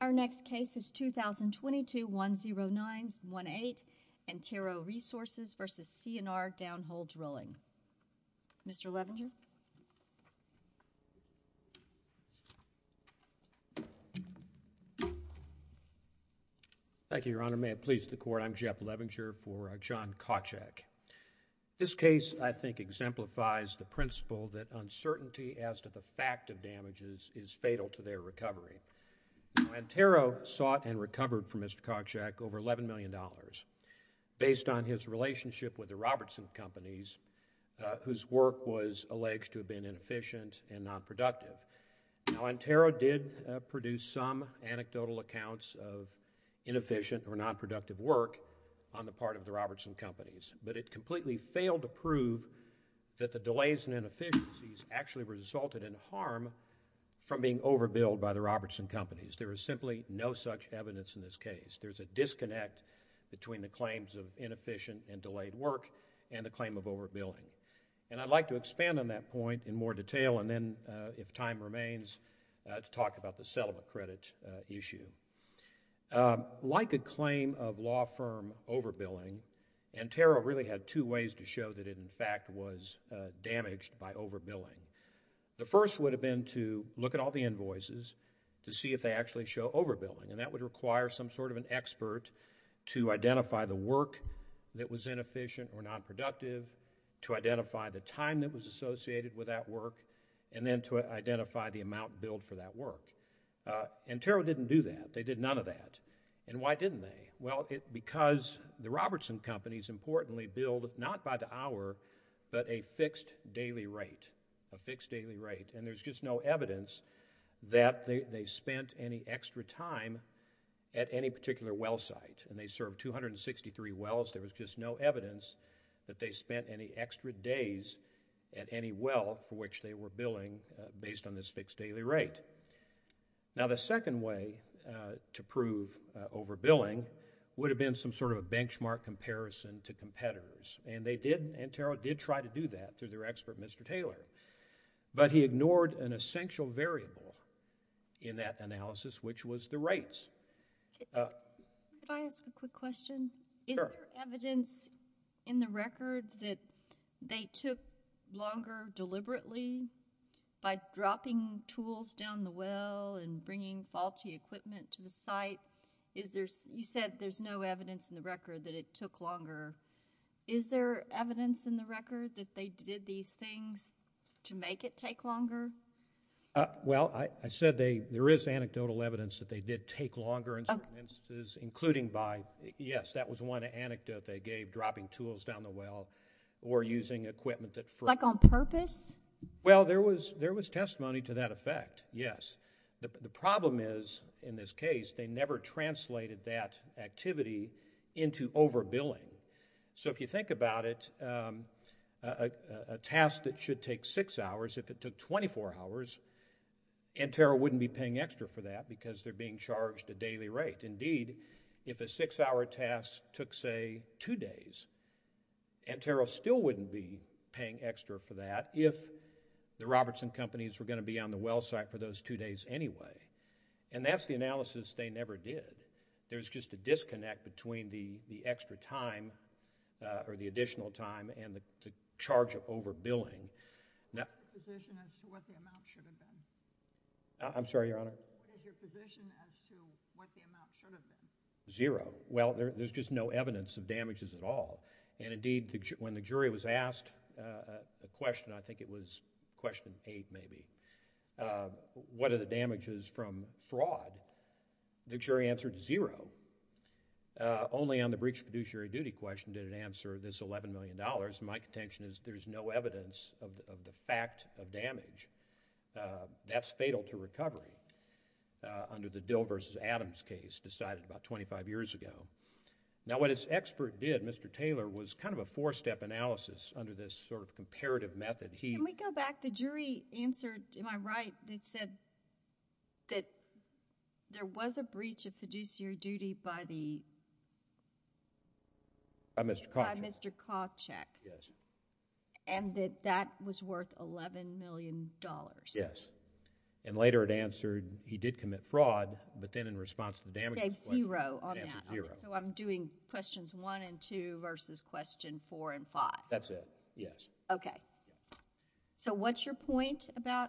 v. C&R, Downhole Drilling Mr. Levinger? Thank you, Your Honor. May it please the Court, I'm Jeff Levinger for John Kawcak. This case, I think, exemplifies the principle that uncertainty as to the fact of damages is fatal to their recovery. Now, Antero sought and recovered from Mr. Kawcak over $11 million based on his relationship with the Robertson Companies, whose work was alleged to have been inefficient and nonproductive. Now, Antero did produce some anecdotal accounts of inefficient or nonproductive work on the part of the Robertson Companies, but it completely failed to prove that the delays and inefficiencies actually resulted in harm from being overbilled by the Robertson Companies. There is simply no such evidence in this case. There's a disconnect between the claims of inefficient and delayed work and the claim of overbilling. And I'd like to expand on that point in more detail, and then, if time remains, to talk about the settlement credit issue. Like a claim of law firm overbilling, Antero really had two ways to show that it, in fact, was damaged by overbilling. The first would have been to look at all the invoices to see if they actually show overbilling, and that would require some sort of an expert to identify the work that was inefficient or nonproductive, to identify the time that was associated with that work, and then to identify the amount billed for that work. Antero didn't do that. They did none of that. And why didn't they? Well, because the Robertson Companies, importantly, billed not by the hour, but a fixed daily rate, a fixed daily rate, and there's just no evidence that they spent any extra time at any particular well site, and they served 263 wells. There was just no evidence that they spent any extra days at any well for which they were billing based on this fixed daily rate. Now, the second way to prove overbilling would have been some sort of a benchmark comparison to competitors, and they did, Antero did try to do that through their expert, Mr. Taylor, but he ignored an essential variable in that analysis, which was the rates. Could I ask a quick question? Sure. Is there evidence in the record that they took longer deliberately by dropping tools down the well and bringing faulty equipment to the site? You said there's no evidence in the record that it took longer. Is there evidence in the record that they did these things to make it take longer? Well, I said there is anecdotal evidence that they did take longer in certain instances, including by, yes, that was one anecdote they gave, dropping tools down the well or using equipment that first. Like on purpose? Well, there was testimony to that effect, yes. The problem is, in this case, they never translated that activity into overbilling. So if you think about it, a task that should take six hours, if it took 24 hours, Antero wouldn't be paying extra for that because they're being charged a daily rate. Indeed, if a six-hour task took, say, two days, Antero still wouldn't be paying extra for that if the Robertson companies were going to be on the well site for those two days anyway, and that's the analysis they never did. There's just a disconnect between the extra time or the additional time and the charge of overbilling. What is your position as to what the amount should have been? I'm sorry, Your Honor? What is your position as to what the amount should have been? Zero. Well, there's just no evidence of damages at all. And indeed, when the jury was asked a question, I think it was question eight maybe, what are the damages from fraud? The jury answered zero. Only on the breach of fiduciary duty question did it answer this $11 million. My contention is there's no evidence of the fact of damage. That's fatal to recovery under the Dill v. Adams case decided about 25 years ago. Now, what its expert did, Mr. Taylor, was kind of a four-step analysis under this sort of comparative method. Can we go back? The jury answered, am I right, that said that there was a breach of fiduciary duty by the— By Mr. Koczek. By Mr. Koczek. Yes. And that that was worth $11 million. Yes. And later it answered he did commit fraud, but then in response to the damages— Gave zero on that. It answered zero. So I'm doing questions one and two versus question four and five. That's it, yes. Okay. So what's your point about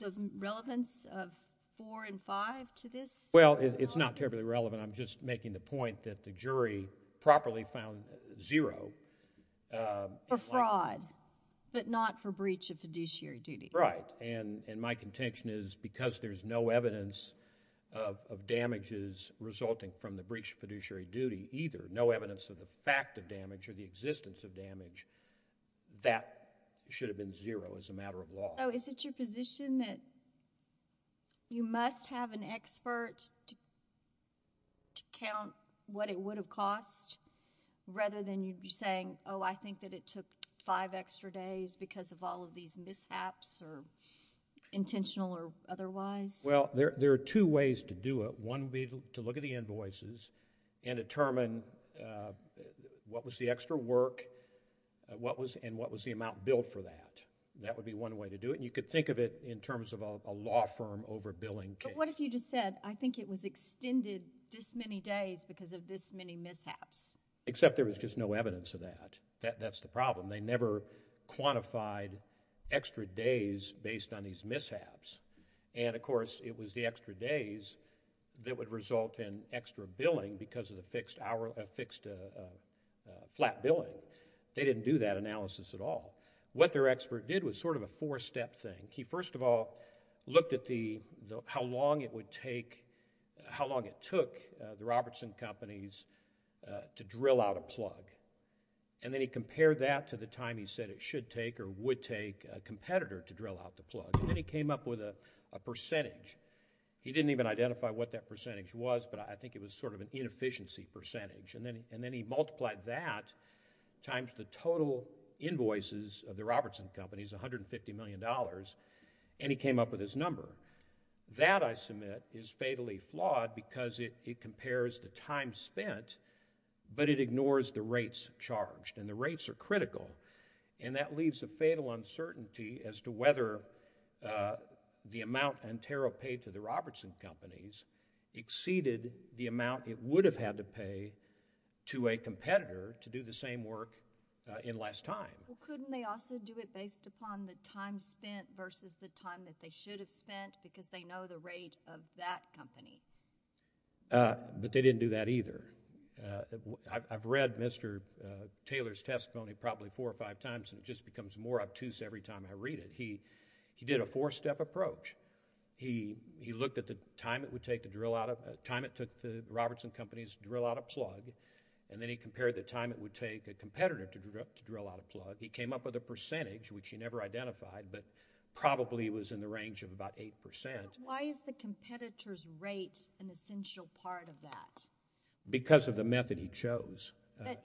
the relevance of four and five to this analysis? Well, it's not terribly relevant. I'm just making the point that the jury properly found zero. For fraud, but not for breach of fiduciary duty. Right. And my contention is because there's no evidence of damages resulting from the breach of fiduciary duty either, no evidence of the fact of damage or the existence of damage, that should have been zero as a matter of law. So is it your position that you must have an expert to count what it would have cost rather than you saying, oh, I think that it took five extra days because of all of these mishaps or intentional or otherwise? Well, there are two ways to do it. One would be to look at the invoices and determine what was the extra work and what was the amount billed for that. That would be one way to do it. And you could think of it in terms of a law firm over billing case. But what if you just said, I think it was extended this many days because of this many mishaps? Except there was just no evidence of that. That's the problem. They never quantified extra days based on these mishaps. And, of course, it was the extra days that would result in extra billing because of the fixed flat billing. They didn't do that analysis at all. What their expert did was sort of a four-step thing. He, first of all, looked at how long it would take, how long it took the Robertson companies to drill out a plug. And then he compared that to the time he said it should take or would take a competitor to drill out the plug. And then he came up with a percentage. He didn't even identify what that percentage was, but I think it was sort of an inefficiency percentage. And then he multiplied that times the total invoices of the Robertson companies, $150 million, and he came up with his number. That, I submit, is fatally flawed because it compares the time spent, but it ignores the rates charged. And the rates are critical. And that leaves a fatal uncertainty as to whether the amount Ontario paid to the Robertson companies exceeded the amount it would have had to pay to a competitor to do the same work in less time. Well, couldn't they also do it based upon the time spent versus the time that they should have spent because they know the rate of that company? I've read Mr. Taylor's testimony probably four or five times, and it just becomes more obtuse every time I read it. He did a four-step approach. He looked at the time it would take the Robertson companies to drill out a plug, and then he compared the time it would take a competitor to drill out a plug. He came up with a percentage, which he never identified, but probably was in the range of about 8%. Why is the competitor's rate an essential part of that? Because of the method he chose.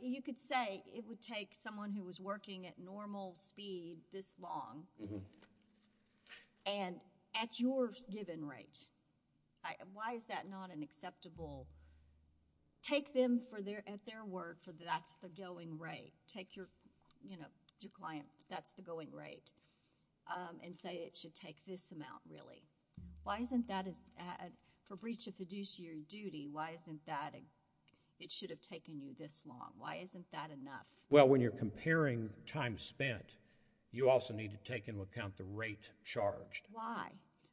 You could say it would take someone who was working at normal speed this long, and at your given rate. Why is that not an acceptable? Take them at their word for that's the going rate. Take your client, that's the going rate, and say it should take this amount, really. Why isn't that, for breach of fiduciary duty, why isn't that it should have taken you this long? Why isn't that enough? Well, when you're comparing time spent, you also need to take into account the rate charged. Why?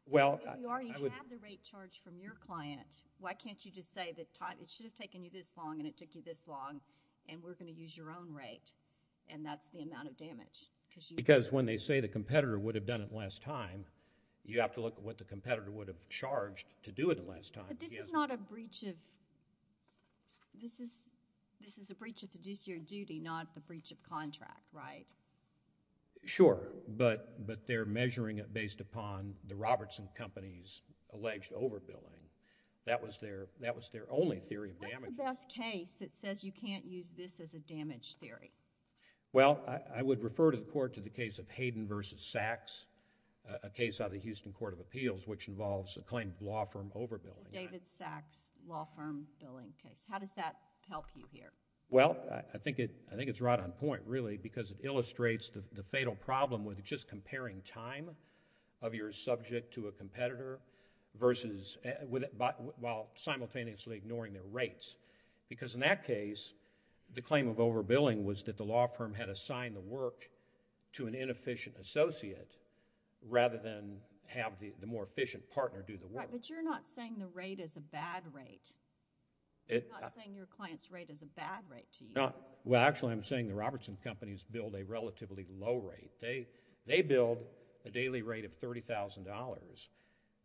Well, I would... You already have the rate charged from your client. Why can't you just say that it should have taken you this long, and it took you this long, and we're going to use your own rate, and that's the amount of damage? Because when they say the competitor would have done it last time, you have to look at what the competitor would have charged to do it last time. But this is not a breach of... This is a breach of fiduciary duty, not the breach of contract, right? Sure, but they're measuring it based upon the Robertson Company's alleged overbilling. That was their only theory of damage. What's the best case that says you can't use this as a damage theory? Well, I would refer to the court to the case of Hayden v. Sachs, a case out of the Houston Court of Appeals which involves a claimed law firm overbilling. The David Sachs law firm billing case. How does that help you here? Well, I think it's right on point, really, because it illustrates the fatal problem with just comparing time of your subject to a competitor while simultaneously ignoring their rates. Because in that case, the claim of overbilling was that the law firm had assigned the work to an inefficient associate rather than have the more efficient partner do the work. Right, but you're not saying the rate is a bad rate. I'm not saying your client's rate is a bad rate to you. Well, actually, I'm saying the Robertson Company's billed a relatively low rate. They billed a daily rate of $30,000.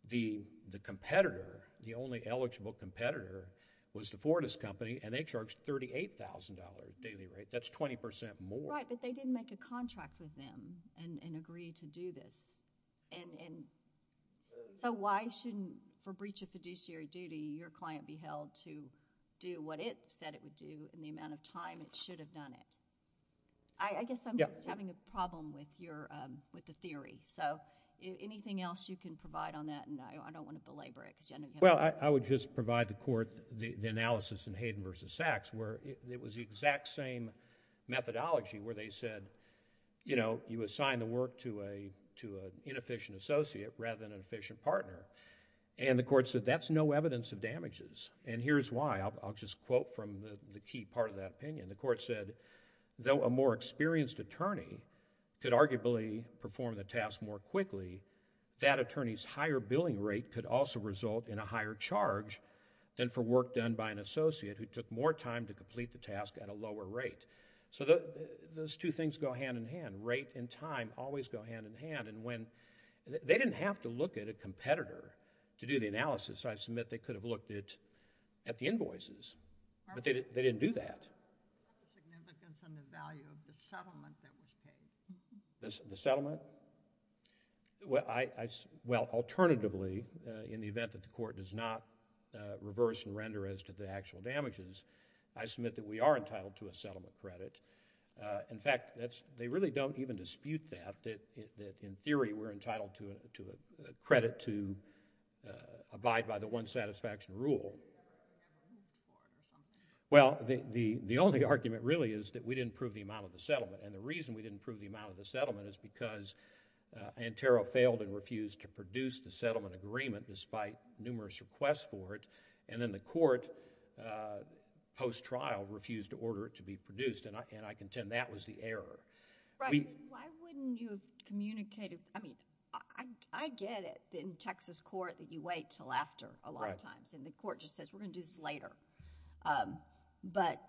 The competitor, the only eligible competitor, was the Fordist Company, and they charged $38,000 daily rate. That's 20% more. Right, but they didn't make a contract with them and agree to do this. So why shouldn't, for breach of fiduciary duty, your client be held to do what it said it would do in the amount of time it should have done it? I guess I'm just having a problem with the theory. So anything else you can provide on that? I don't want to belabor it. Well, I would just provide the court the analysis in Hayden v. Sachs where it was the exact same methodology where they said, you assign the work to an inefficient associate rather than an efficient partner. And the court said that's no evidence of damages. And here's why. I'll just quote from the key part of that opinion. The court said, though a more experienced attorney could arguably perform the task more quickly, that attorney's higher billing rate could also result in a higher charge than for work done by an associate who took more time to complete the task at a lower rate. So those two things go hand in hand. Rate and time always go hand in hand. And they didn't have to look at a competitor to do the analysis. I submit they could have looked at the invoices, but they didn't do that. What was the significance and the value of the settlement that was paid? The settlement? Well, alternatively, in the event that the court does not reverse and render as to the actual damages, I submit that we are entitled to a settlement credit. In fact, they really don't even dispute that, that in theory we're entitled to a credit to abide by the one satisfaction rule. Well, the only argument really is that we didn't prove the amount of the settlement. And the reason we didn't prove the amount of the settlement is because Antero failed and refused to produce the settlement agreement despite numerous requests for it. And then the court, post-trial, refused to order it to be produced. And I contend that was the error. Right. Why wouldn't you have communicated? I mean, I get it in Texas court that you wait until after a lot of times. And the court just says, we're going to do this later. But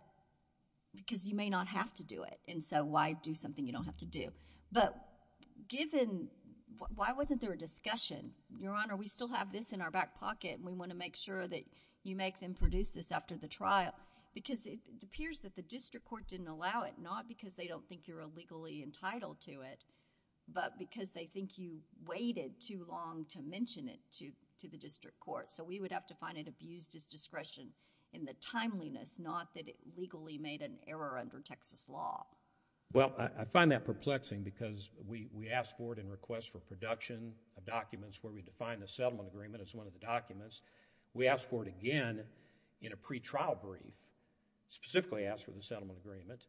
because you may not have to do it, and so why do something you don't have to do? But given, why wasn't there a discussion? Your Honor, we still have this in our back pocket, and we want to make sure that you make them produce this after the trial. Because it appears that the district court didn't allow it, not because they don't think you're illegally entitled to it, but because they think you waited too long to mention it to the district court. So we would have to find it abused as discretion in the timeliness, not that it legally made an error under Texas law. Well, I find that perplexing because we asked for it in requests for production of documents where we defined the settlement agreement as one of the documents. We asked for it again in a pretrial brief, specifically asked for the settlement agreement.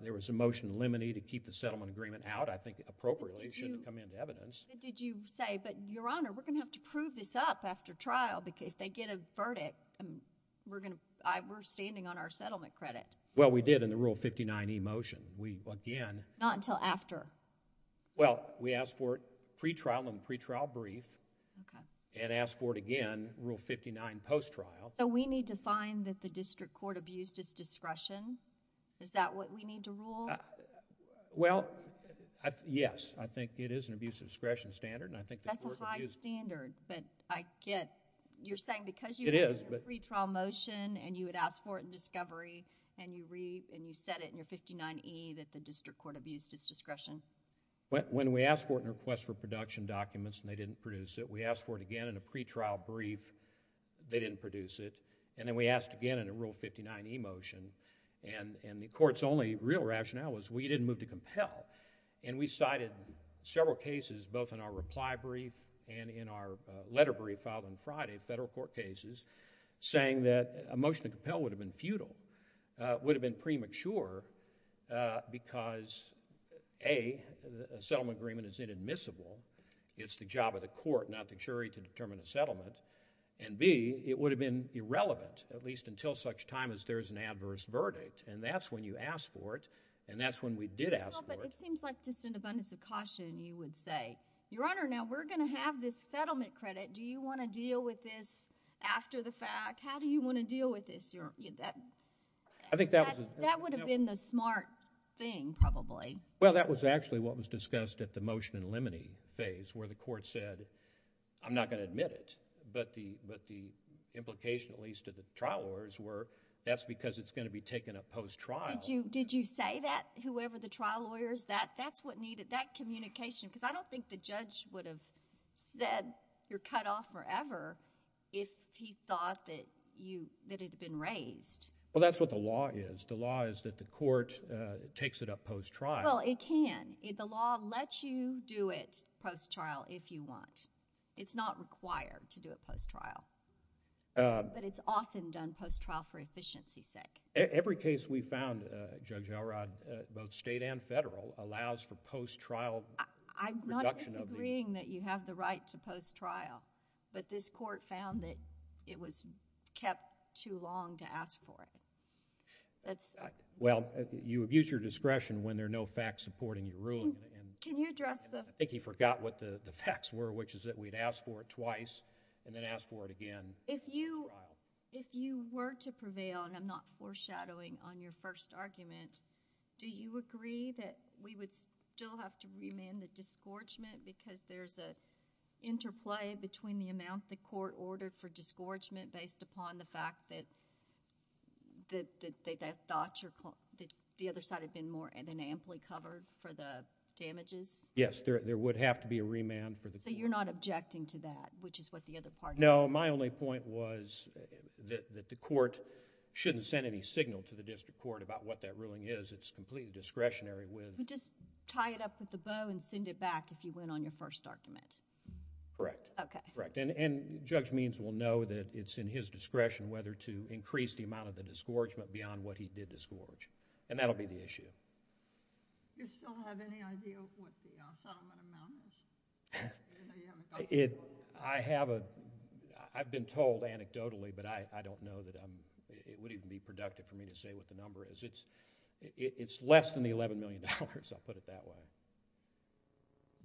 There was a motion eliminated to keep the settlement agreement out. I think appropriately it shouldn't come into evidence. Did you say, but Your Honor, we're going to have to prove this up after trial because if they get a verdict, we're standing on our settlement credit. Well, we did in the Rule 59e motion. Not until after? Well, we asked for it pretrial in the pretrial brief, and asked for it again in Rule 59 post-trial. So we need to find that the district court abused as discretion? Is that what we need to rule? Well, yes, I think it is an abuse of discretion standard. That's a high standard, but I get it. You're saying because you had a pretrial motion, and you had asked for it in discovery, and you said it in your 59e that the district court abused as discretion? When we asked for it in requests for production documents and they didn't produce it, we asked for it again in a pretrial brief. They didn't produce it, and then we asked again in a Rule 59e motion, and the court's only real rationale was we didn't move to compel. We cited several cases, both in our reply brief and in our letter brief filed on Friday, federal court cases, saying that a motion to compel would have been futile, would have been premature, because A, a settlement agreement is inadmissible. It's the job of the court, not the jury, to determine a settlement, and B, it would have been irrelevant, at least until such time as there's an adverse verdict, and that's when you ask for it, and that's when we did ask for it. Well, but it seems like just an abundance of caution you would say, Your Honor, now we're going to have this settlement credit. Do you want to deal with this after the fact? How do you want to deal with this? That would have been the smart thing, probably. Well, that was actually what was discussed at the motion in limine phase where the court said, I'm not going to admit it, but the implication, at least to the trial lawyers, were that's because it's going to be taken up post-trial. Did you say that, whoever the trial lawyer is? That's what needed, that communication, because I don't think the judge would have said you're cut off forever if he thought that it had been raised. Well, that's what the law is. The law is that the court takes it up post-trial. Well, it can. The law lets you do it post-trial if you want. It's not required to do it post-trial, but it's often done post-trial for efficiency's sake. Every case we found, Judge Elrod, both state and federal, allows for post-trial reduction of the... I'm not disagreeing that you have the right to post-trial, but this court found that it was kept too long to ask for it. Well, you abuse your discretion when there are no facts supporting your ruling. Can you address the... I think he forgot what the facts were, which is that we had asked for it twice and then asked for it again. If you were to prevail, and I'm not foreshadowing on your first argument, do you agree that we would still have to remand the disgorgement because there's an interplay between the amount the court ordered for disgorgement based upon the fact that the other side had been more amply covered for the damages? Yes, there would have to be a remand for the... So you're not objecting to that, which is what the other party... No, my only point was that the court shouldn't send any signal to the district court about what that ruling is. It's completely discretionary with... You just tie it up with a bow and send it back if you win on your first argument. Correct. Okay. Correct, and Judge Means will know that it's in his discretion whether to increase the amount of the disgorgement beyond what he did disgorge, and that'll be the issue. You still have any idea what the settlement amount is? I have a... I've been told anecdotally, but I don't know that I'm... It wouldn't even be productive for me to say what the number is. It's less than the $11 million. I'll put it that way.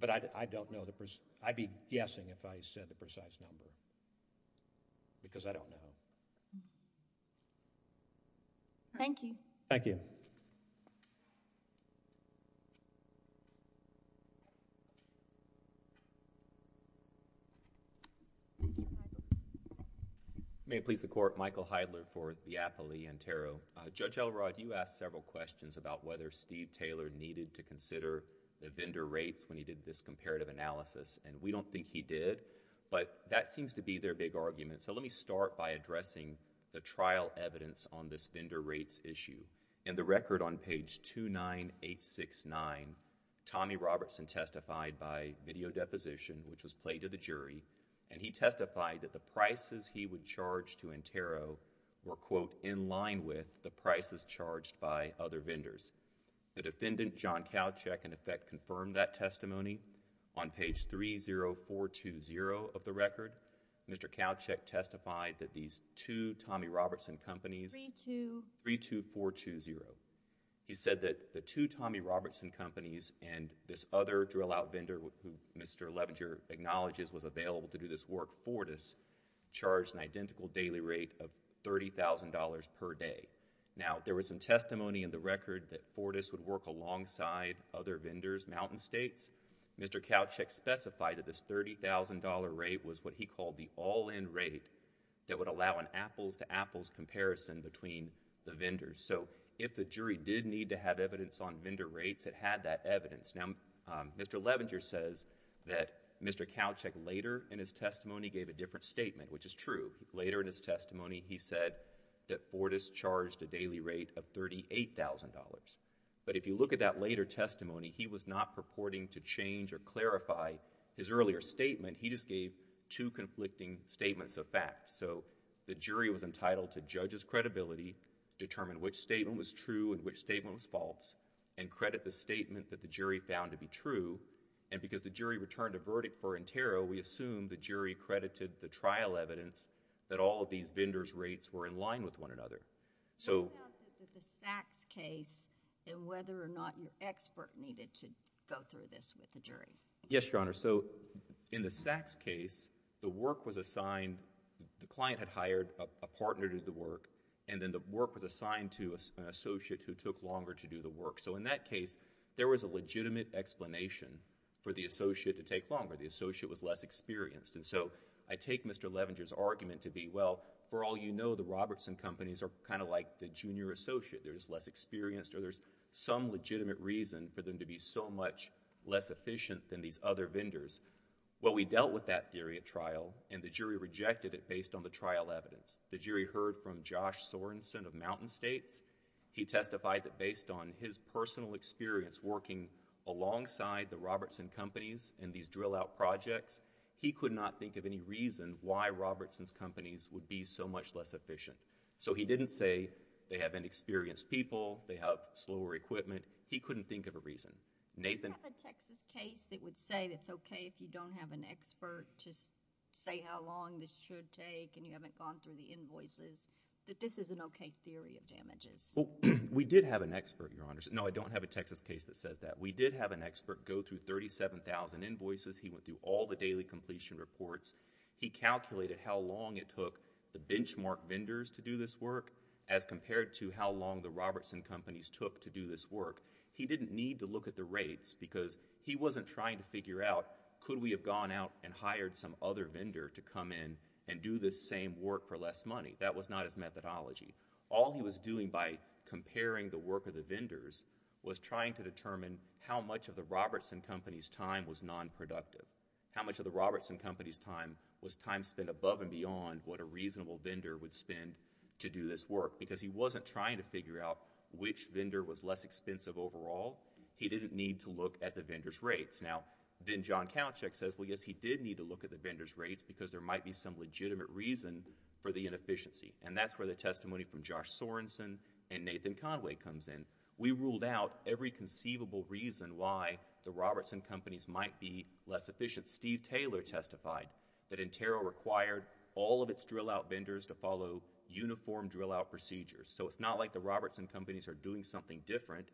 But I don't know the... I'd be guessing if I said the precise number because I don't know. Thank you. Thank you. Thank you, Michael. May it please the Court, Michael Heidler for the Appley-Ontario. Judge Elrod, you asked several questions about whether Steve Taylor needed to consider the vendor rates when he did this comparative analysis, and we don't think he did, but that seems to be their big argument. So let me start by addressing the trial evidence on this vendor rates issue. In the record on page 29869, Tommy Robertson testified by video deposition, which was played to the jury, and he testified that the prices he would charge to Intero were, quote, in line with the prices charged by other vendors. The defendant, John Kowchick, in effect confirmed that testimony. On page 30420 of the record, Mr. Kowchick testified that these two Tommy Robertson companies... Three, two. Three, two, four, two, zero. He said that the two Tommy Robertson companies and this other drill-out vendor who Mr. Levenger acknowledges was available to do this work, Fortis, charged an identical daily rate of $30,000 per day. Now, there was some testimony in the record that Fortis would work alongside other vendors, Mountain States. Mr. Kowchick specified that this $30,000 rate was what he called the all-in rate that would allow an apples-to-apples comparison between the vendors. So, if the jury did need to have evidence on vendor rates, it had that evidence. Now, Mr. Levenger says that Mr. Kowchick later in his testimony gave a different statement, which is true. Later in his testimony, he said that Fortis charged a daily rate of $38,000. But, if you look at that later testimony, he was not purporting to change or clarify his earlier statement. He just gave two conflicting statements of fact. So, the jury was entitled to judge's credibility, determine which statement was true and which statement was false, and credit the statement that the jury found to be true. And, because the jury returned a verdict for interro, we assume the jury credited the trial evidence that all of these vendors' rates were in line with one another. So... What about the Sachs case and whether or not your expert needed to go through this with the jury? Yes, Your Honor. So, in the Sachs case, the work was assigned... the client had hired a partner to do the work, and then the work was assigned to an associate who took longer to do the work. So, in that case, there was a legitimate explanation for the associate to take longer. The associate was less experienced. And so, I take Mr. Levenger's argument to be, well, for all you know, the Robertson companies are kind of like the junior associate. They're just less experienced, or there's some legitimate reason for them to be so much less efficient than these other vendors. Well, we dealt with that theory at trial, and the jury rejected it based on the trial evidence. The jury heard from Josh Sorenson of Mountain States. He testified that based on his personal experience working alongside the Robertson companies in these drill-out projects, he could not think of any reason why Robertson's companies would be so much less efficient. So, he didn't say they have inexperienced people, they have slower equipment. He couldn't think of a reason. Nathan? Do you have a Texas case that would say it's okay if you don't have an expert to say how long this should take and you haven't gone through the invoices, that this is an okay theory of damages? We did have an expert, Your Honor. No, I don't have a Texas case that says that. We did have an expert go through 37,000 invoices. He went through all the daily completion reports. He calculated how long it took the benchmark vendors to do this work as compared to how long the Robertson companies took to do this work. He didn't need to look at the rates because he wasn't trying to figure out could we have gone out and hired some other vendor to come in and do this same work for less money. That was not his methodology. All he was doing by comparing the work of the vendors was trying to determine how much of the Robertson company's time was non-productive, how much of the Robertson company's time was time spent above and beyond what a reasonable vendor would spend to do this work because he wasn't trying to figure out which vendor was less expensive overall. He didn't need to look at the vendor's rates. Now, then John Kalachick says, well, yes, he did need to look at the vendor's rates because there might be some legitimate reason for the inefficiency. And that's where the testimony from Josh Sorenson and Nathan Conway comes in. We ruled out every conceivable reason why the Robertson companies might be less efficient. Steve Taylor testified that Intero required all of its drillout vendors to follow uniform drillout procedures. So it's not like the Robertson companies are doing something different.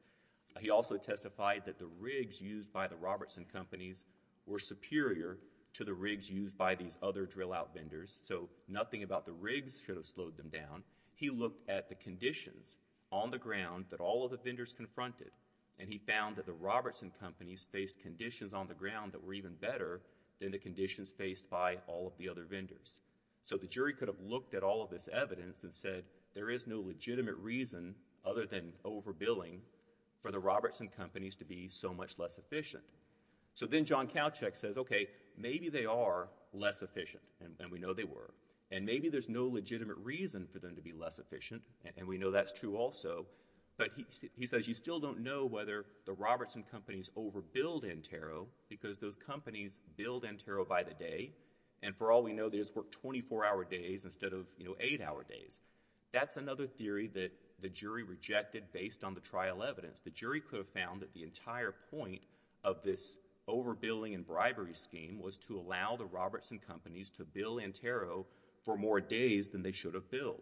He also testified that the rigs used by the Robertson companies were superior to the rigs used by these other drillout vendors. So nothing about the rigs should have slowed them down. He looked at the conditions on the ground that all of the vendors confronted, and he found that the Robertson companies faced conditions on the ground that were even better than the conditions faced by all of the other vendors. So the jury could have looked at all of this evidence and said, there is no legitimate reason other than overbilling for the Robertson companies to be so much less efficient. So then John Kalachick says, okay, maybe they are less efficient, and we know they were. And maybe there's no legitimate reason for them to be less efficient, and we know that's true also. But he says, you still don't know whether the Robertson companies overbilled Intero because those companies billed Intero by the day. And for all we know, they just worked 24-hour days instead of eight-hour days. That's another theory that the jury rejected based on the trial evidence. The jury could have found that the entire point of this overbilling and bribery scheme was to allow the Robertson companies to bill Intero for more days than they should have billed.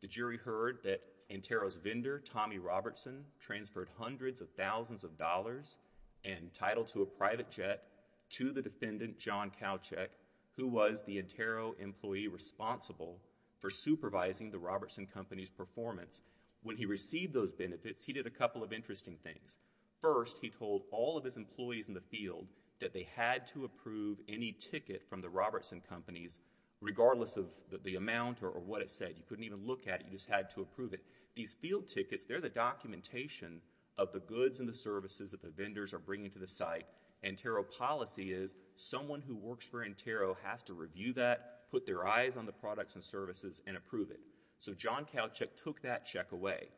The jury heard that Intero's vendor, Tommy Robertson, transferred hundreds of thousands of dollars entitled to a private jet to the defendant, John Kalachick, who was the Intero employee responsible for supervising the Robertson companies' performance. When he received those benefits, he did a couple of interesting things. First, he told all of his employees in the field that they had to approve any ticket from the Robertson companies, regardless of the amount or what it said. You couldn't even look at it. You just had to approve it. These field tickets, they're the documentation of the goods and the services that the vendors are bringing to the site. Intero policy is someone who works for Intero has to review that, put their eyes on the products and services, and approve it. So John Kalachick took that check away.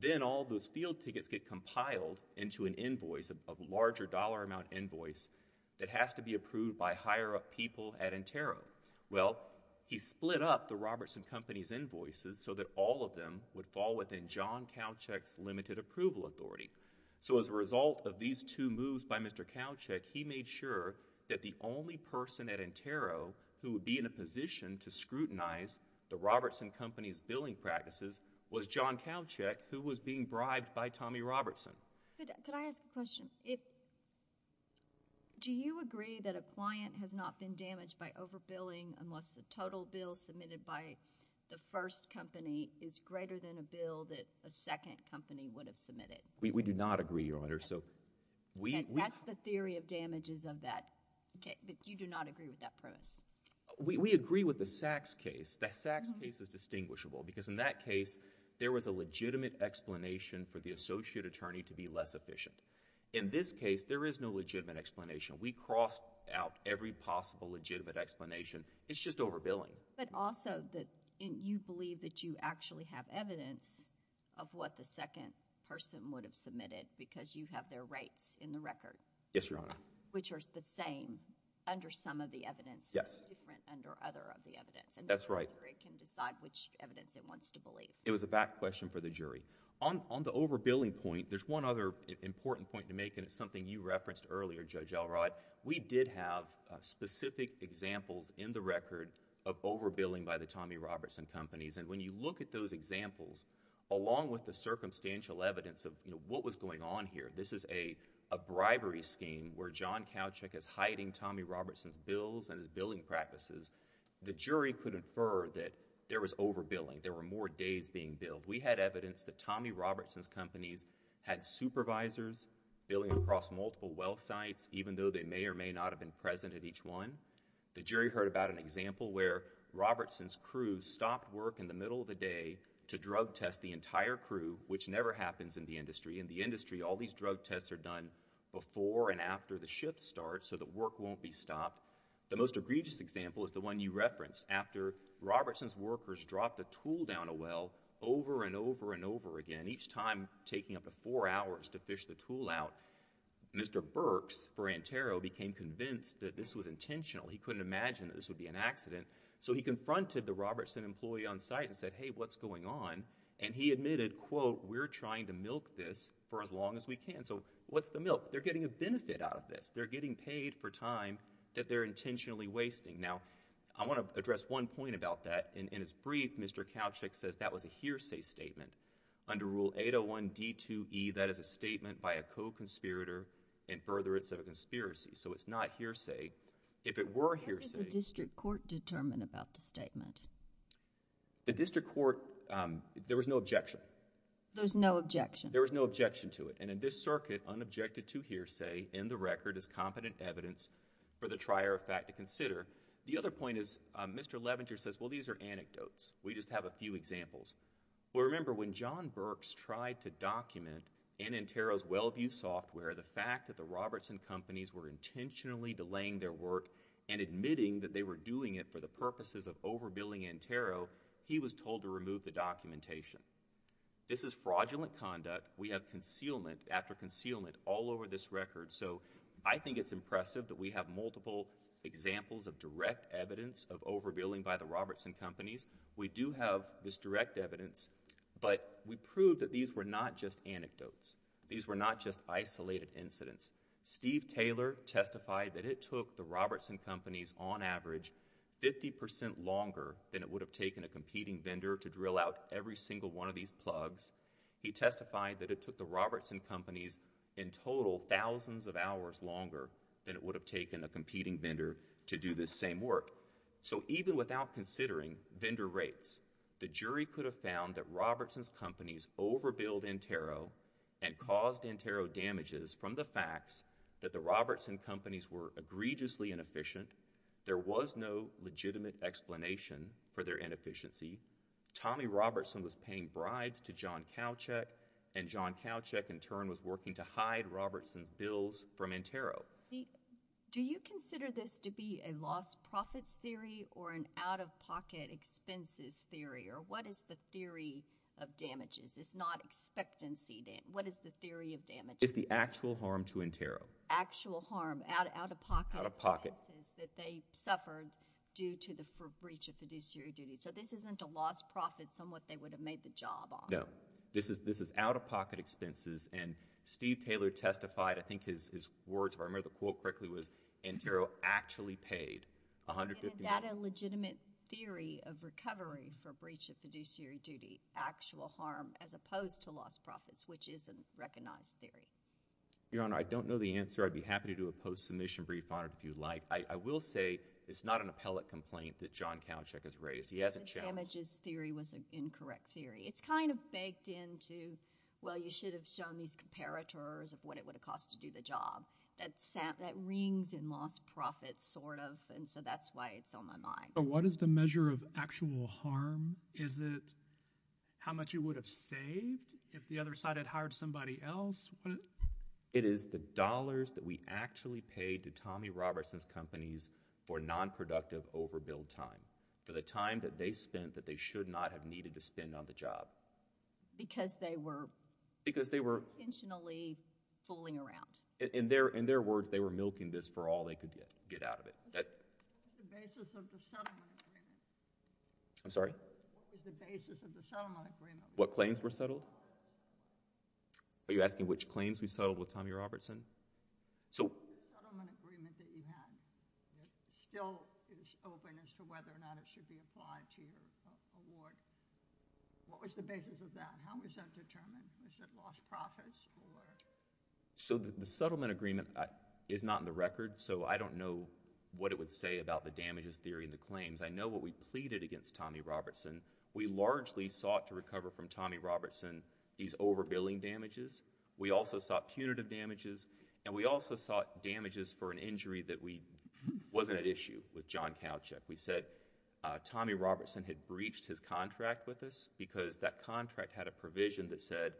Then all those field tickets get compiled into an invoice, a larger dollar amount invoice, that has to be approved by higher-up people at Intero. Well, he split up the Robertson companies' invoices so that all of them would fall within John Kalachick's limited approval authority. So as a result of these two moves by Mr. Kalachick, he made sure that the only person at Intero who would be in a position to scrutinize the Robertson companies' billing practices was John Kalachick, who was being bribed by Tommy Robertson. Could I ask a question? Do you agree that a client has not been damaged by overbilling unless the total bill submitted by the first company is greater than a bill that a second company would have submitted? We do not agree, Your Honor. That's the theory of damages of that. But you do not agree with that premise? We agree with the Sachs case. The Sachs case is distinguishable because in that case, there was a legitimate explanation for the associate attorney to be less efficient. In this case, there is no legitimate explanation. We crossed out every possible legitimate explanation. It's just overbilling. But also that you believe that you actually have evidence of what the second person would have submitted because you have their rates in the record. Yes, Your Honor. Which are the same under some of the evidence. Yes. Different under other of the evidence. That's right. And the jury can decide which evidence it wants to believe. It was a back question for the jury. On the overbilling point, there's one other important point to make and it's something you referenced earlier, Judge Elrod. We did have specific examples in the record of overbilling by the Tommy Robertson companies. And when you look at those examples, along with the circumstantial evidence of what was going on here, this is a bribery scheme where John Kowchick is hiding Tommy Robertson's bills and his billing practices. The jury could infer that there was overbilling. There were more days being billed. We had evidence that Tommy Robertson's companies had supervisors billing across multiple well sites, even though they may or may not have been present at each one. The jury heard about an example where Robertson's crew stopped work in the middle of the day to drug test the entire crew, which never happens in the industry. In the industry, all these drug tests are done before and after the shift starts so that work won't be stopped. The most egregious example is the one you referenced. After Robertson's workers dropped a tool down a well over and over and over again, each time taking up to four hours to fish the tool out, Mr. Burks for Antero became convinced that this was intentional. He couldn't imagine that this would be an accident. So he confronted the Robertson employee on site and said, hey, what's going on? And he admitted, quote, we're trying to milk this for as long as we can. So what's the milk? They're getting a benefit out of this. They're getting paid for time that they're intentionally wasting. Now, I want to address one point about that. In his brief, Mr. Kalchick says that was a hearsay statement. Under Rule 801 D2E, that is a statement by a co-conspirator in furtherance of a conspiracy. So it's not hearsay. If it were hearsay... What did the district court determine about the statement? The district court, there was no objection. There was no objection? There was no objection to it. And in this circuit, unobjected to hearsay in the record is competent evidence for the The other point is, Mr. Levenger says, well, these are anecdotes. We just have a few examples. Well, remember, when John Burks tried to document Antero's Wellview software, the fact that the Robertson companies were intentionally delaying their work and admitting that they were doing it for the purposes of overbilling Antero, he was told to remove the documentation. This is fraudulent conduct. We have concealment after concealment all over this record. So I think it's impressive that we have multiple examples of direct evidence of overbilling by the Robertson companies. We do have this direct evidence, but we proved that these were not just anecdotes. These were not just isolated incidents. Steve Taylor testified that it took the Robertson companies, on average, 50% longer than it would have taken a competing vendor to drill out every single one of these plugs. He testified that it took the Robertson companies, in total, thousands of hours longer than it would have taken a competing vendor to do this same work. So even without considering vendor rates, the jury could have found that Robertson's companies overbilled Antero and caused Antero damages from the facts that the Robertson companies were egregiously inefficient, there was no legitimate explanation for their inefficiency, Tommy Robertson was paying bribes to John Kowchick, and John Kowchick, in turn, was working to hide Robertson's bills from Antero. Do you consider this to be a lost profits theory or an out-of-pocket expenses theory, or what is the theory of damages? It's not expectancy damage. What is the theory of damages? It's the actual harm to Antero. Actual harm, out-of-pocket expenses... Out-of-pocket. ...that they suffered due to the breach of fiduciary duty. So this isn't a lost profits on what they would have made the job on. No. This is out-of-pocket expenses, and Steve Taylor testified, I think his words were, I remember the quote correctly was, Antero actually paid $150. Isn't that a legitimate theory of recovery for breach of fiduciary duty, actual harm, as opposed to lost profits, which is a recognized theory? Your Honor, I don't know the answer. I'd be happy to do a post-submission brief on it if you'd like. I will say it's not an appellate complaint that John Kowchick has raised. He has a challenge. Damages theory was an incorrect theory. It's kind of baked into, well, you should have shown these comparators of what it would have cost to do the job. That rings in lost profits, sort of, and so that's why it's on my mind. But what is the measure of actual harm? Is it how much you would have saved if the other side had hired somebody else? It is the dollars that we actually paid to Tommy Robertson's companies for nonproductive overbill time, for the time that they spent that they should not have needed to spend on the job. Because they were intentionally fooling around. In their words, they were milking this for all they could get out of it. What was the basis of the settlement agreement? I'm sorry? What was the basis of the settlement agreement? What claims were settled? Are you asking which claims we settled with Tommy Robertson? The settlement agreement that you had still is open as to whether or not it should be applied to your award. What was the basis of that? How was that determined? Was it lost profits? The settlement agreement is not in the record, so I don't know what it would say about the damages theory and the claims. I know what we pleaded against Tommy Robertson. We largely sought to recover from Tommy Robertson these overbilling damages. We also sought punitive damages, and we also sought damages for an injury that wasn't at issue with John Kalchuk. We said Tommy Robertson had breached his contract with us because that contract had a provision that said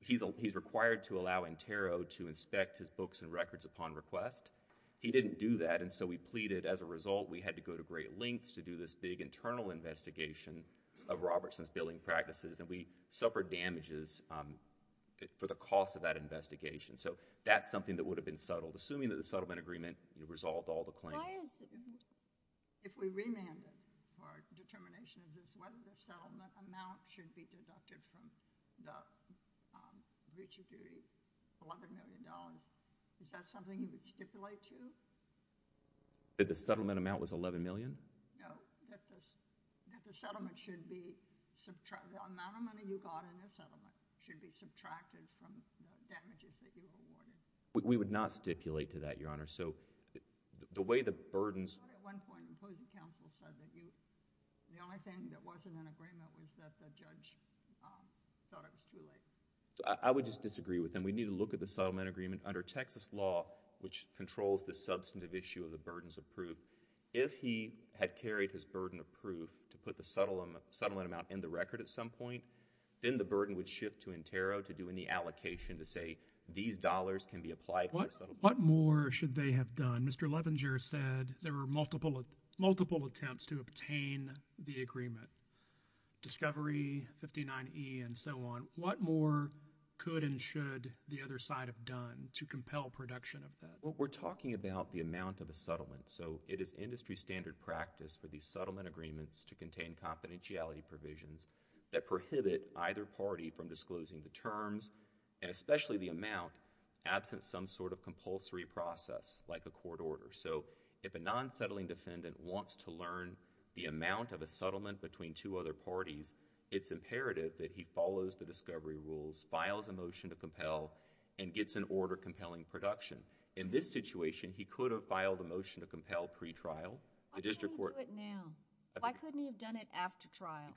he's required to allow Intero to inspect his books and records upon request. He didn't do that, and so we pleaded. As a result, we had to go to great lengths to do this big internal investigation of Robertson's billing practices, and we suffered damages for the cost of that investigation. So that's something that would have been settled, assuming that the settlement agreement resolved all the claims. Why is it? If we remanded for determination of this, whether the settlement amount should be deducted from the breach of duty, $11 million, is that something you would stipulate to? That the settlement amount was $11 million? No, that the settlement should be subtracted. The amount of money you got in the settlement should be subtracted from the damages that you awarded. We would not stipulate to that, Your Honor. So the way the burdens... But at one point, the opposing counsel said that the only thing that wasn't in agreement was that the judge thought it was too late. I would just disagree with them. We need to look at the settlement agreement. Under Texas law, which controls the substantive issue of the burdens of proof, if he had carried his burden of proof to put the settlement amount in the record at some point, then the burden would shift to Intero to do any allocation to say these dollars can be applied for the settlement. What more should they have done? Mr. Levenger said there were multiple attempts to obtain the agreement. Discovery, 59E, and so on. What more could and should the other side have done to compel production of that? Well, we're talking about the amount of a settlement. So it is industry-standard practice to contain confidentiality provisions that prohibit either party from disclosing the terms and especially the amount absent some sort of compulsory process like a court order. So if a non-settling defendant wants to learn the amount of a settlement between two other parties, it's imperative that he follows the discovery rules, files a motion to compel, and gets an order compelling production. In this situation, he could have filed a motion to compel pre-trial. Why couldn't he do it now? Why couldn't he have done it after trial?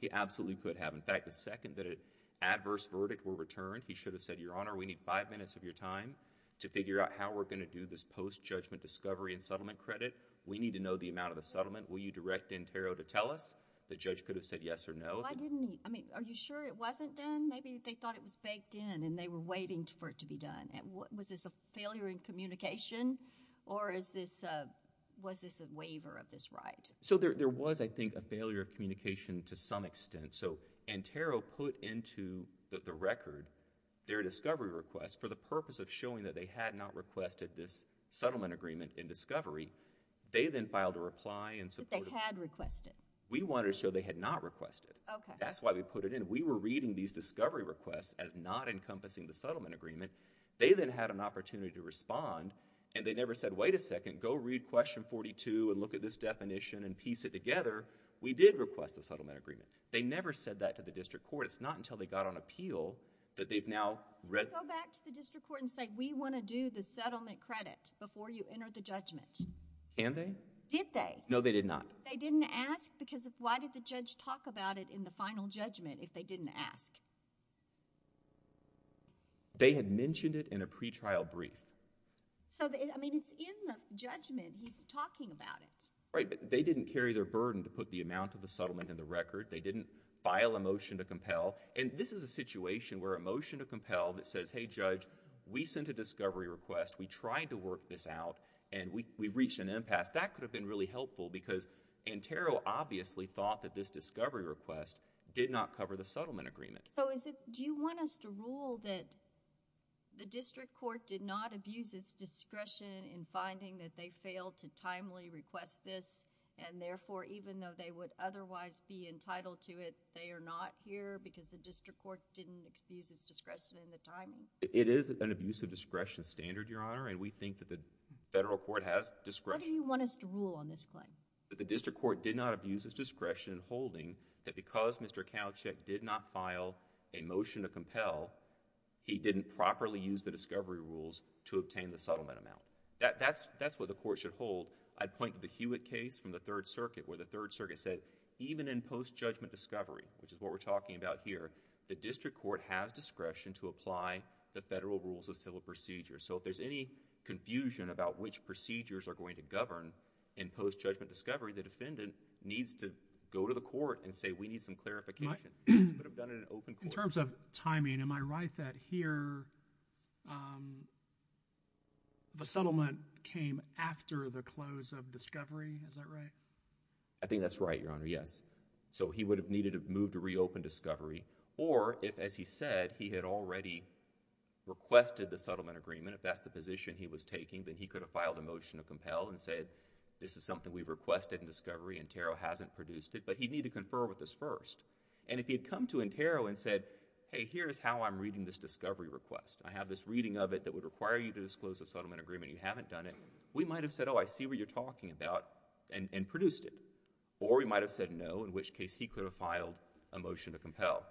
He absolutely could have. In fact, the second that an adverse verdict were returned, he should have said, Your Honor, we need five minutes of your time to figure out how we're going to do this post-judgment discovery and settlement credit. We need to know the amount of the settlement. Will you direct Antero to tell us? The judge could have said yes or no. Why didn't he? I mean, are you sure it wasn't done? Maybe they thought it was baked in and they were waiting for it to be done. Was this a failure in communication or was this a waiver of this right? So there was, I think, a failure of communication to some extent. So Antero put into the record their discovery request for the purpose of showing that they had not requested this settlement agreement in discovery. They then filed a reply and supported it. But they had requested. We wanted to show they had not requested. Okay. That's why we put it in. We were reading these discovery requests as not encompassing the settlement agreement. They then had an opportunity to respond and they never said, Wait a second. Go read Question 42 and look at this definition and piece it together. We did request the settlement agreement. They never said that to the district court. It's not until they got on appeal that they've now read. Go back to the district court and say, We want to do the settlement credit before you enter the judgment. Can they? Did they? No, they did not. They didn't ask? Because why did the judge talk about it in the final judgment if they didn't ask? They had mentioned it in a pretrial brief. So, I mean, it's in the judgment. He's talking about it. Right, but they didn't carry their burden to put the amount of the settlement in the record. They didn't file a motion to compel. And this is a situation where a motion to compel that says, Hey, Judge, we sent a discovery request, we tried to work this out, and we've reached an impasse. That could have been really helpful because Antero obviously thought that this discovery request did not cover the settlement agreement. So do you want us to rule that the district court did not abuse its discretion in finding that they failed to timely request this and therefore even though they would otherwise be entitled to it, they are not here because the district court didn't abuse its discretion in the timing? It is an abusive discretion standard, Your Honor, and we think that the federal court has discretion. What do you want us to rule on this claim? That the district court did not abuse its discretion in holding that because Mr. Kalachick did not file a motion to compel, he didn't properly use the discovery rules to obtain the settlement amount. That's what the court should hold. I'd point to the Hewitt case from the Third Circuit where the Third Circuit said even in post-judgment discovery, which is what we're talking about here, the district court has discretion to apply the federal rules of civil procedure. So if there's any confusion about which procedures are going to govern in post-judgment discovery, the defendant needs to go to the court and say we need some clarification. It would have done it in open court. In terms of timing, am I right that here the settlement came after the close of discovery? Is that right? I think that's right, Your Honor, yes. So he would have needed to move to reopen discovery or if, as he said, he had already requested the settlement agreement, if that's the position he was taking, then he could have filed a motion to compel and said this is something we requested in discovery and Ntero hasn't produced it, but he'd need to confer with us first. And if he had come to Ntero and said, hey, here's how I'm reading this discovery request. I have this reading of it that would require you to disclose a settlement agreement. You haven't done it. We might have said, oh, I see what you're talking about and produced it. Or we might have said no, in which case he could have filed a motion to compel.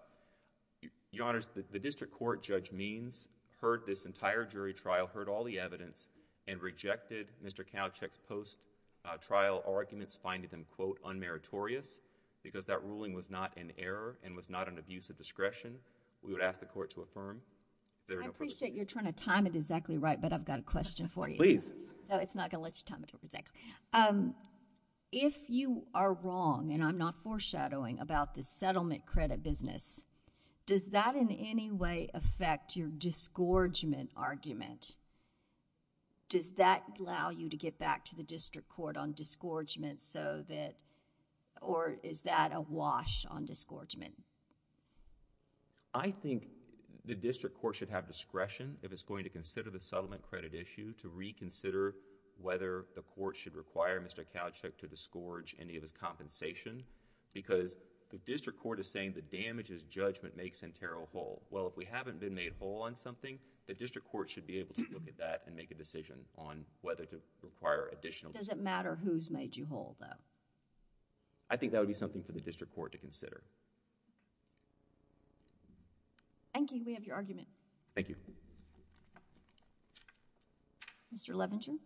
Your Honors, the district court, Judge Means, heard this entire jury trial, heard all the evidence and rejected Mr. Kowchick's post-trial arguments, finding them, quote, unmeritorious because that ruling was not an error and was not an abuse of discretion. We would ask the court to affirm. I appreciate you're trying to time it exactly right, but I've got a question for you. Please. So it's not going to let you time it exactly. If you are wrong, and I'm not foreshadowing, about the settlement credit business, does that in any way affect your disgorgement argument? Does that allow you to get back to the district court on disgorgement so that... or is that a wash on disgorgement? I think the district court should have discretion if it's going to consider the settlement credit issue to reconsider whether the court should require Mr. Kowchick to disgorge any of his compensation because the district court is saying the damages judgment makes Sentaro whole. Well, if we haven't been made whole on something, the district court should be able to look at that and make a decision on whether to require additional... Does it matter who's made you whole, though? I think that would be something for the district court to consider. Thank you. We have your argument. Thank you. Mr. Levenson.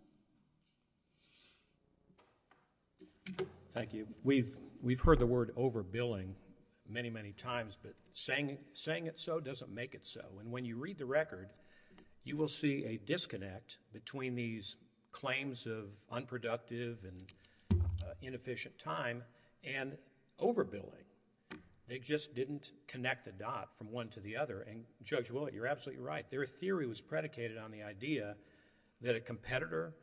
Thank you. We've heard the word overbilling many, many times, but saying it so doesn't make it so, you will see a disconnect between these claims of unproductive and inefficient time and overbilling. They just didn't connect the dot from one to the other, and Judge Willett, you're absolutely right. Their theory was predicated on the idea that a competitor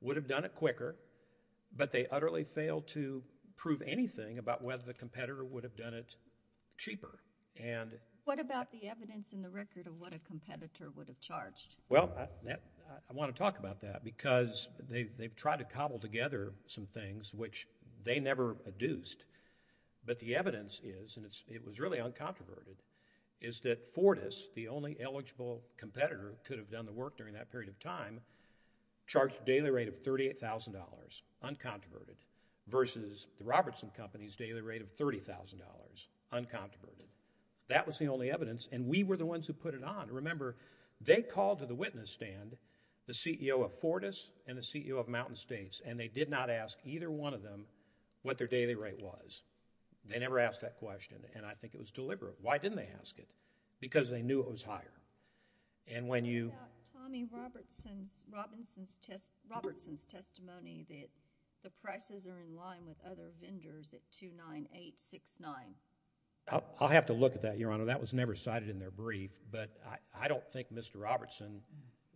would have done it quicker, but they utterly failed to prove anything about whether the competitor would have done it cheaper. What about the evidence in the record of what a competitor would have charged? Well, I want to talk about that because they've tried to cobble together some things which they never adduced, but the evidence is, and it was really uncontroverted, is that Fortis, the only eligible competitor who could have done the work during that period of time, charged a daily rate of $38,000, uncontroverted, versus the Robertson Company's daily rate of $30,000, uncontroverted. That was the only evidence, and we were the ones who put it on. Remember, they called to the witness stand the CEO of Fortis and the CEO of Mountain States, and they did not ask either one of them what their daily rate was. They never asked that question, and I think it was deliberate. Why didn't they ask it? Because they knew it was higher, and when you... What about Tommy Robertson's testimony that the prices are in line with other vendors at $2.9869? I'll have to look at that, Your Honor. That was never cited in their brief, but I don't think Mr. Robertson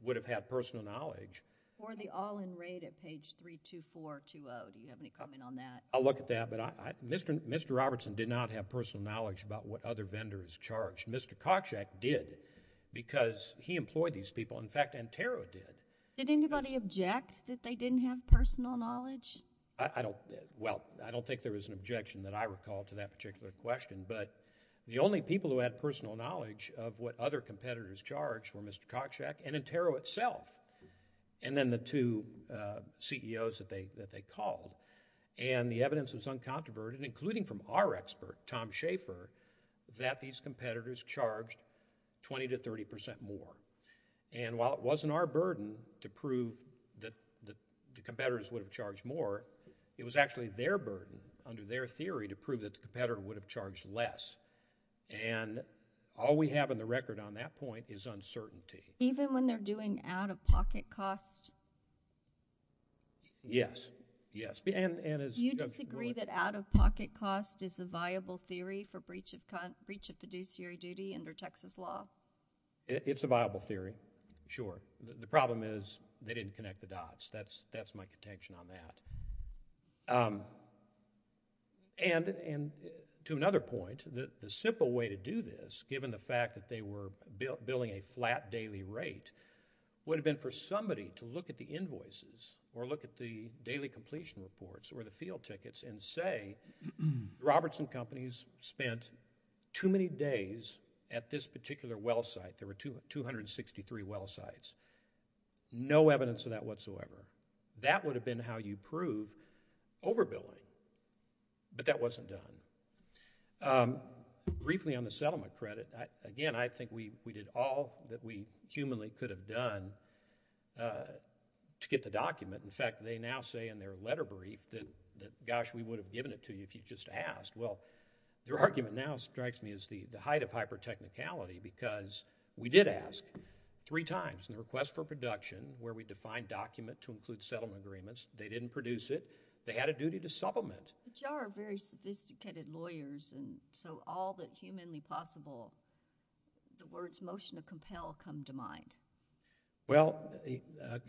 would have had personal knowledge. Or the all-in rate at page 32420. Do you have any comment on that? I'll look at that, but Mr. Robertson did not have personal knowledge about what other vendors charged. Mr. Koczek did, because he employed these people. In fact, Antero did. Did anybody object that they didn't have personal knowledge? I don't... Well, I don't think there was an objection that I recall to that particular question, but the only people who had personal knowledge of what other competitors charged were Mr. Koczek and Antero itself, and then the two CEOs that they called. And the evidence was uncontroverted, including from our expert, Tom Schaefer, that these competitors charged 20% to 30% more. And while it wasn't our burden to prove that the competitors would have charged more, it was actually their burden, under their theory, to prove that the competitor would have charged less. And all we have in the record on that point is uncertainty. Even when they're doing out-of-pocket costs? Yes, yes. Do you disagree that out-of-pocket costs is a viable theory for breach of fiduciary duty under Texas law? It's a viable theory, sure. The problem is they didn't connect the dots. That's my contention on that. And to another point, the simple way to do this, given the fact that they were billing a flat daily rate, would have been for somebody to look at the invoices or look at the daily completion reports or the field tickets and say, Robertson Companies spent too many days at this particular well site. There were 263 well sites. No evidence of that whatsoever. That would have been how you prove overbilling, but that wasn't done. Briefly on the settlement credit, again, I think we did all that we humanly could have done to get the document. In fact, they now say in their letter brief that, gosh, we would have given it to you if you'd just asked. Well, their argument now strikes me as the height of hyper-technicality because we did ask three times, in the request for production, where we defined document to include settlement agreements. They didn't produce it. They had a duty to supplement. But you are very sophisticated lawyers, and so all that humanly possible, the words motion to compel come to mind. Well,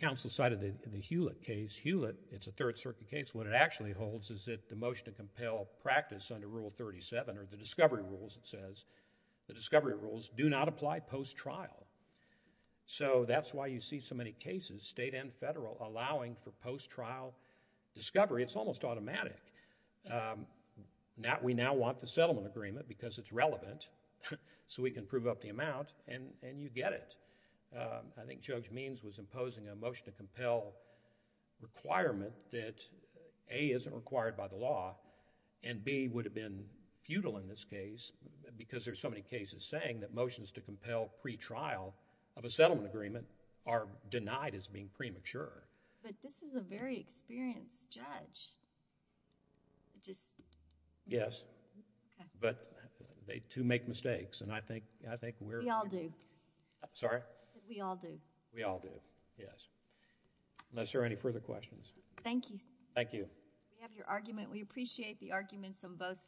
counsel cited the Hewlett case. Hewlett, it's a Third Circuit case. What it actually holds is that the motion to compel practice under Rule 37 or the discovery rules, it says, the discovery rules do not apply post-trial. That's why you see so many cases, state and federal, allowing for post-trial discovery. It's almost automatic. We now want the settlement agreement because it's relevant so we can prove up the amount, and you get it. I think Judge Means was imposing a motion to compel requirement that A, isn't required by the law, and B, would have been futile in this case because there's so many cases saying that motions to compel pretrial of a settlement agreement are denied as being premature. But this is a very experienced judge. It just... Yes. Okay. But they, too, make mistakes, and I think we're... We all do. Sorry? We all do. We all do, yes. Unless there are any further questions. Thank you, sir. Thank you. We have your argument. We appreciate the arguments on both sides.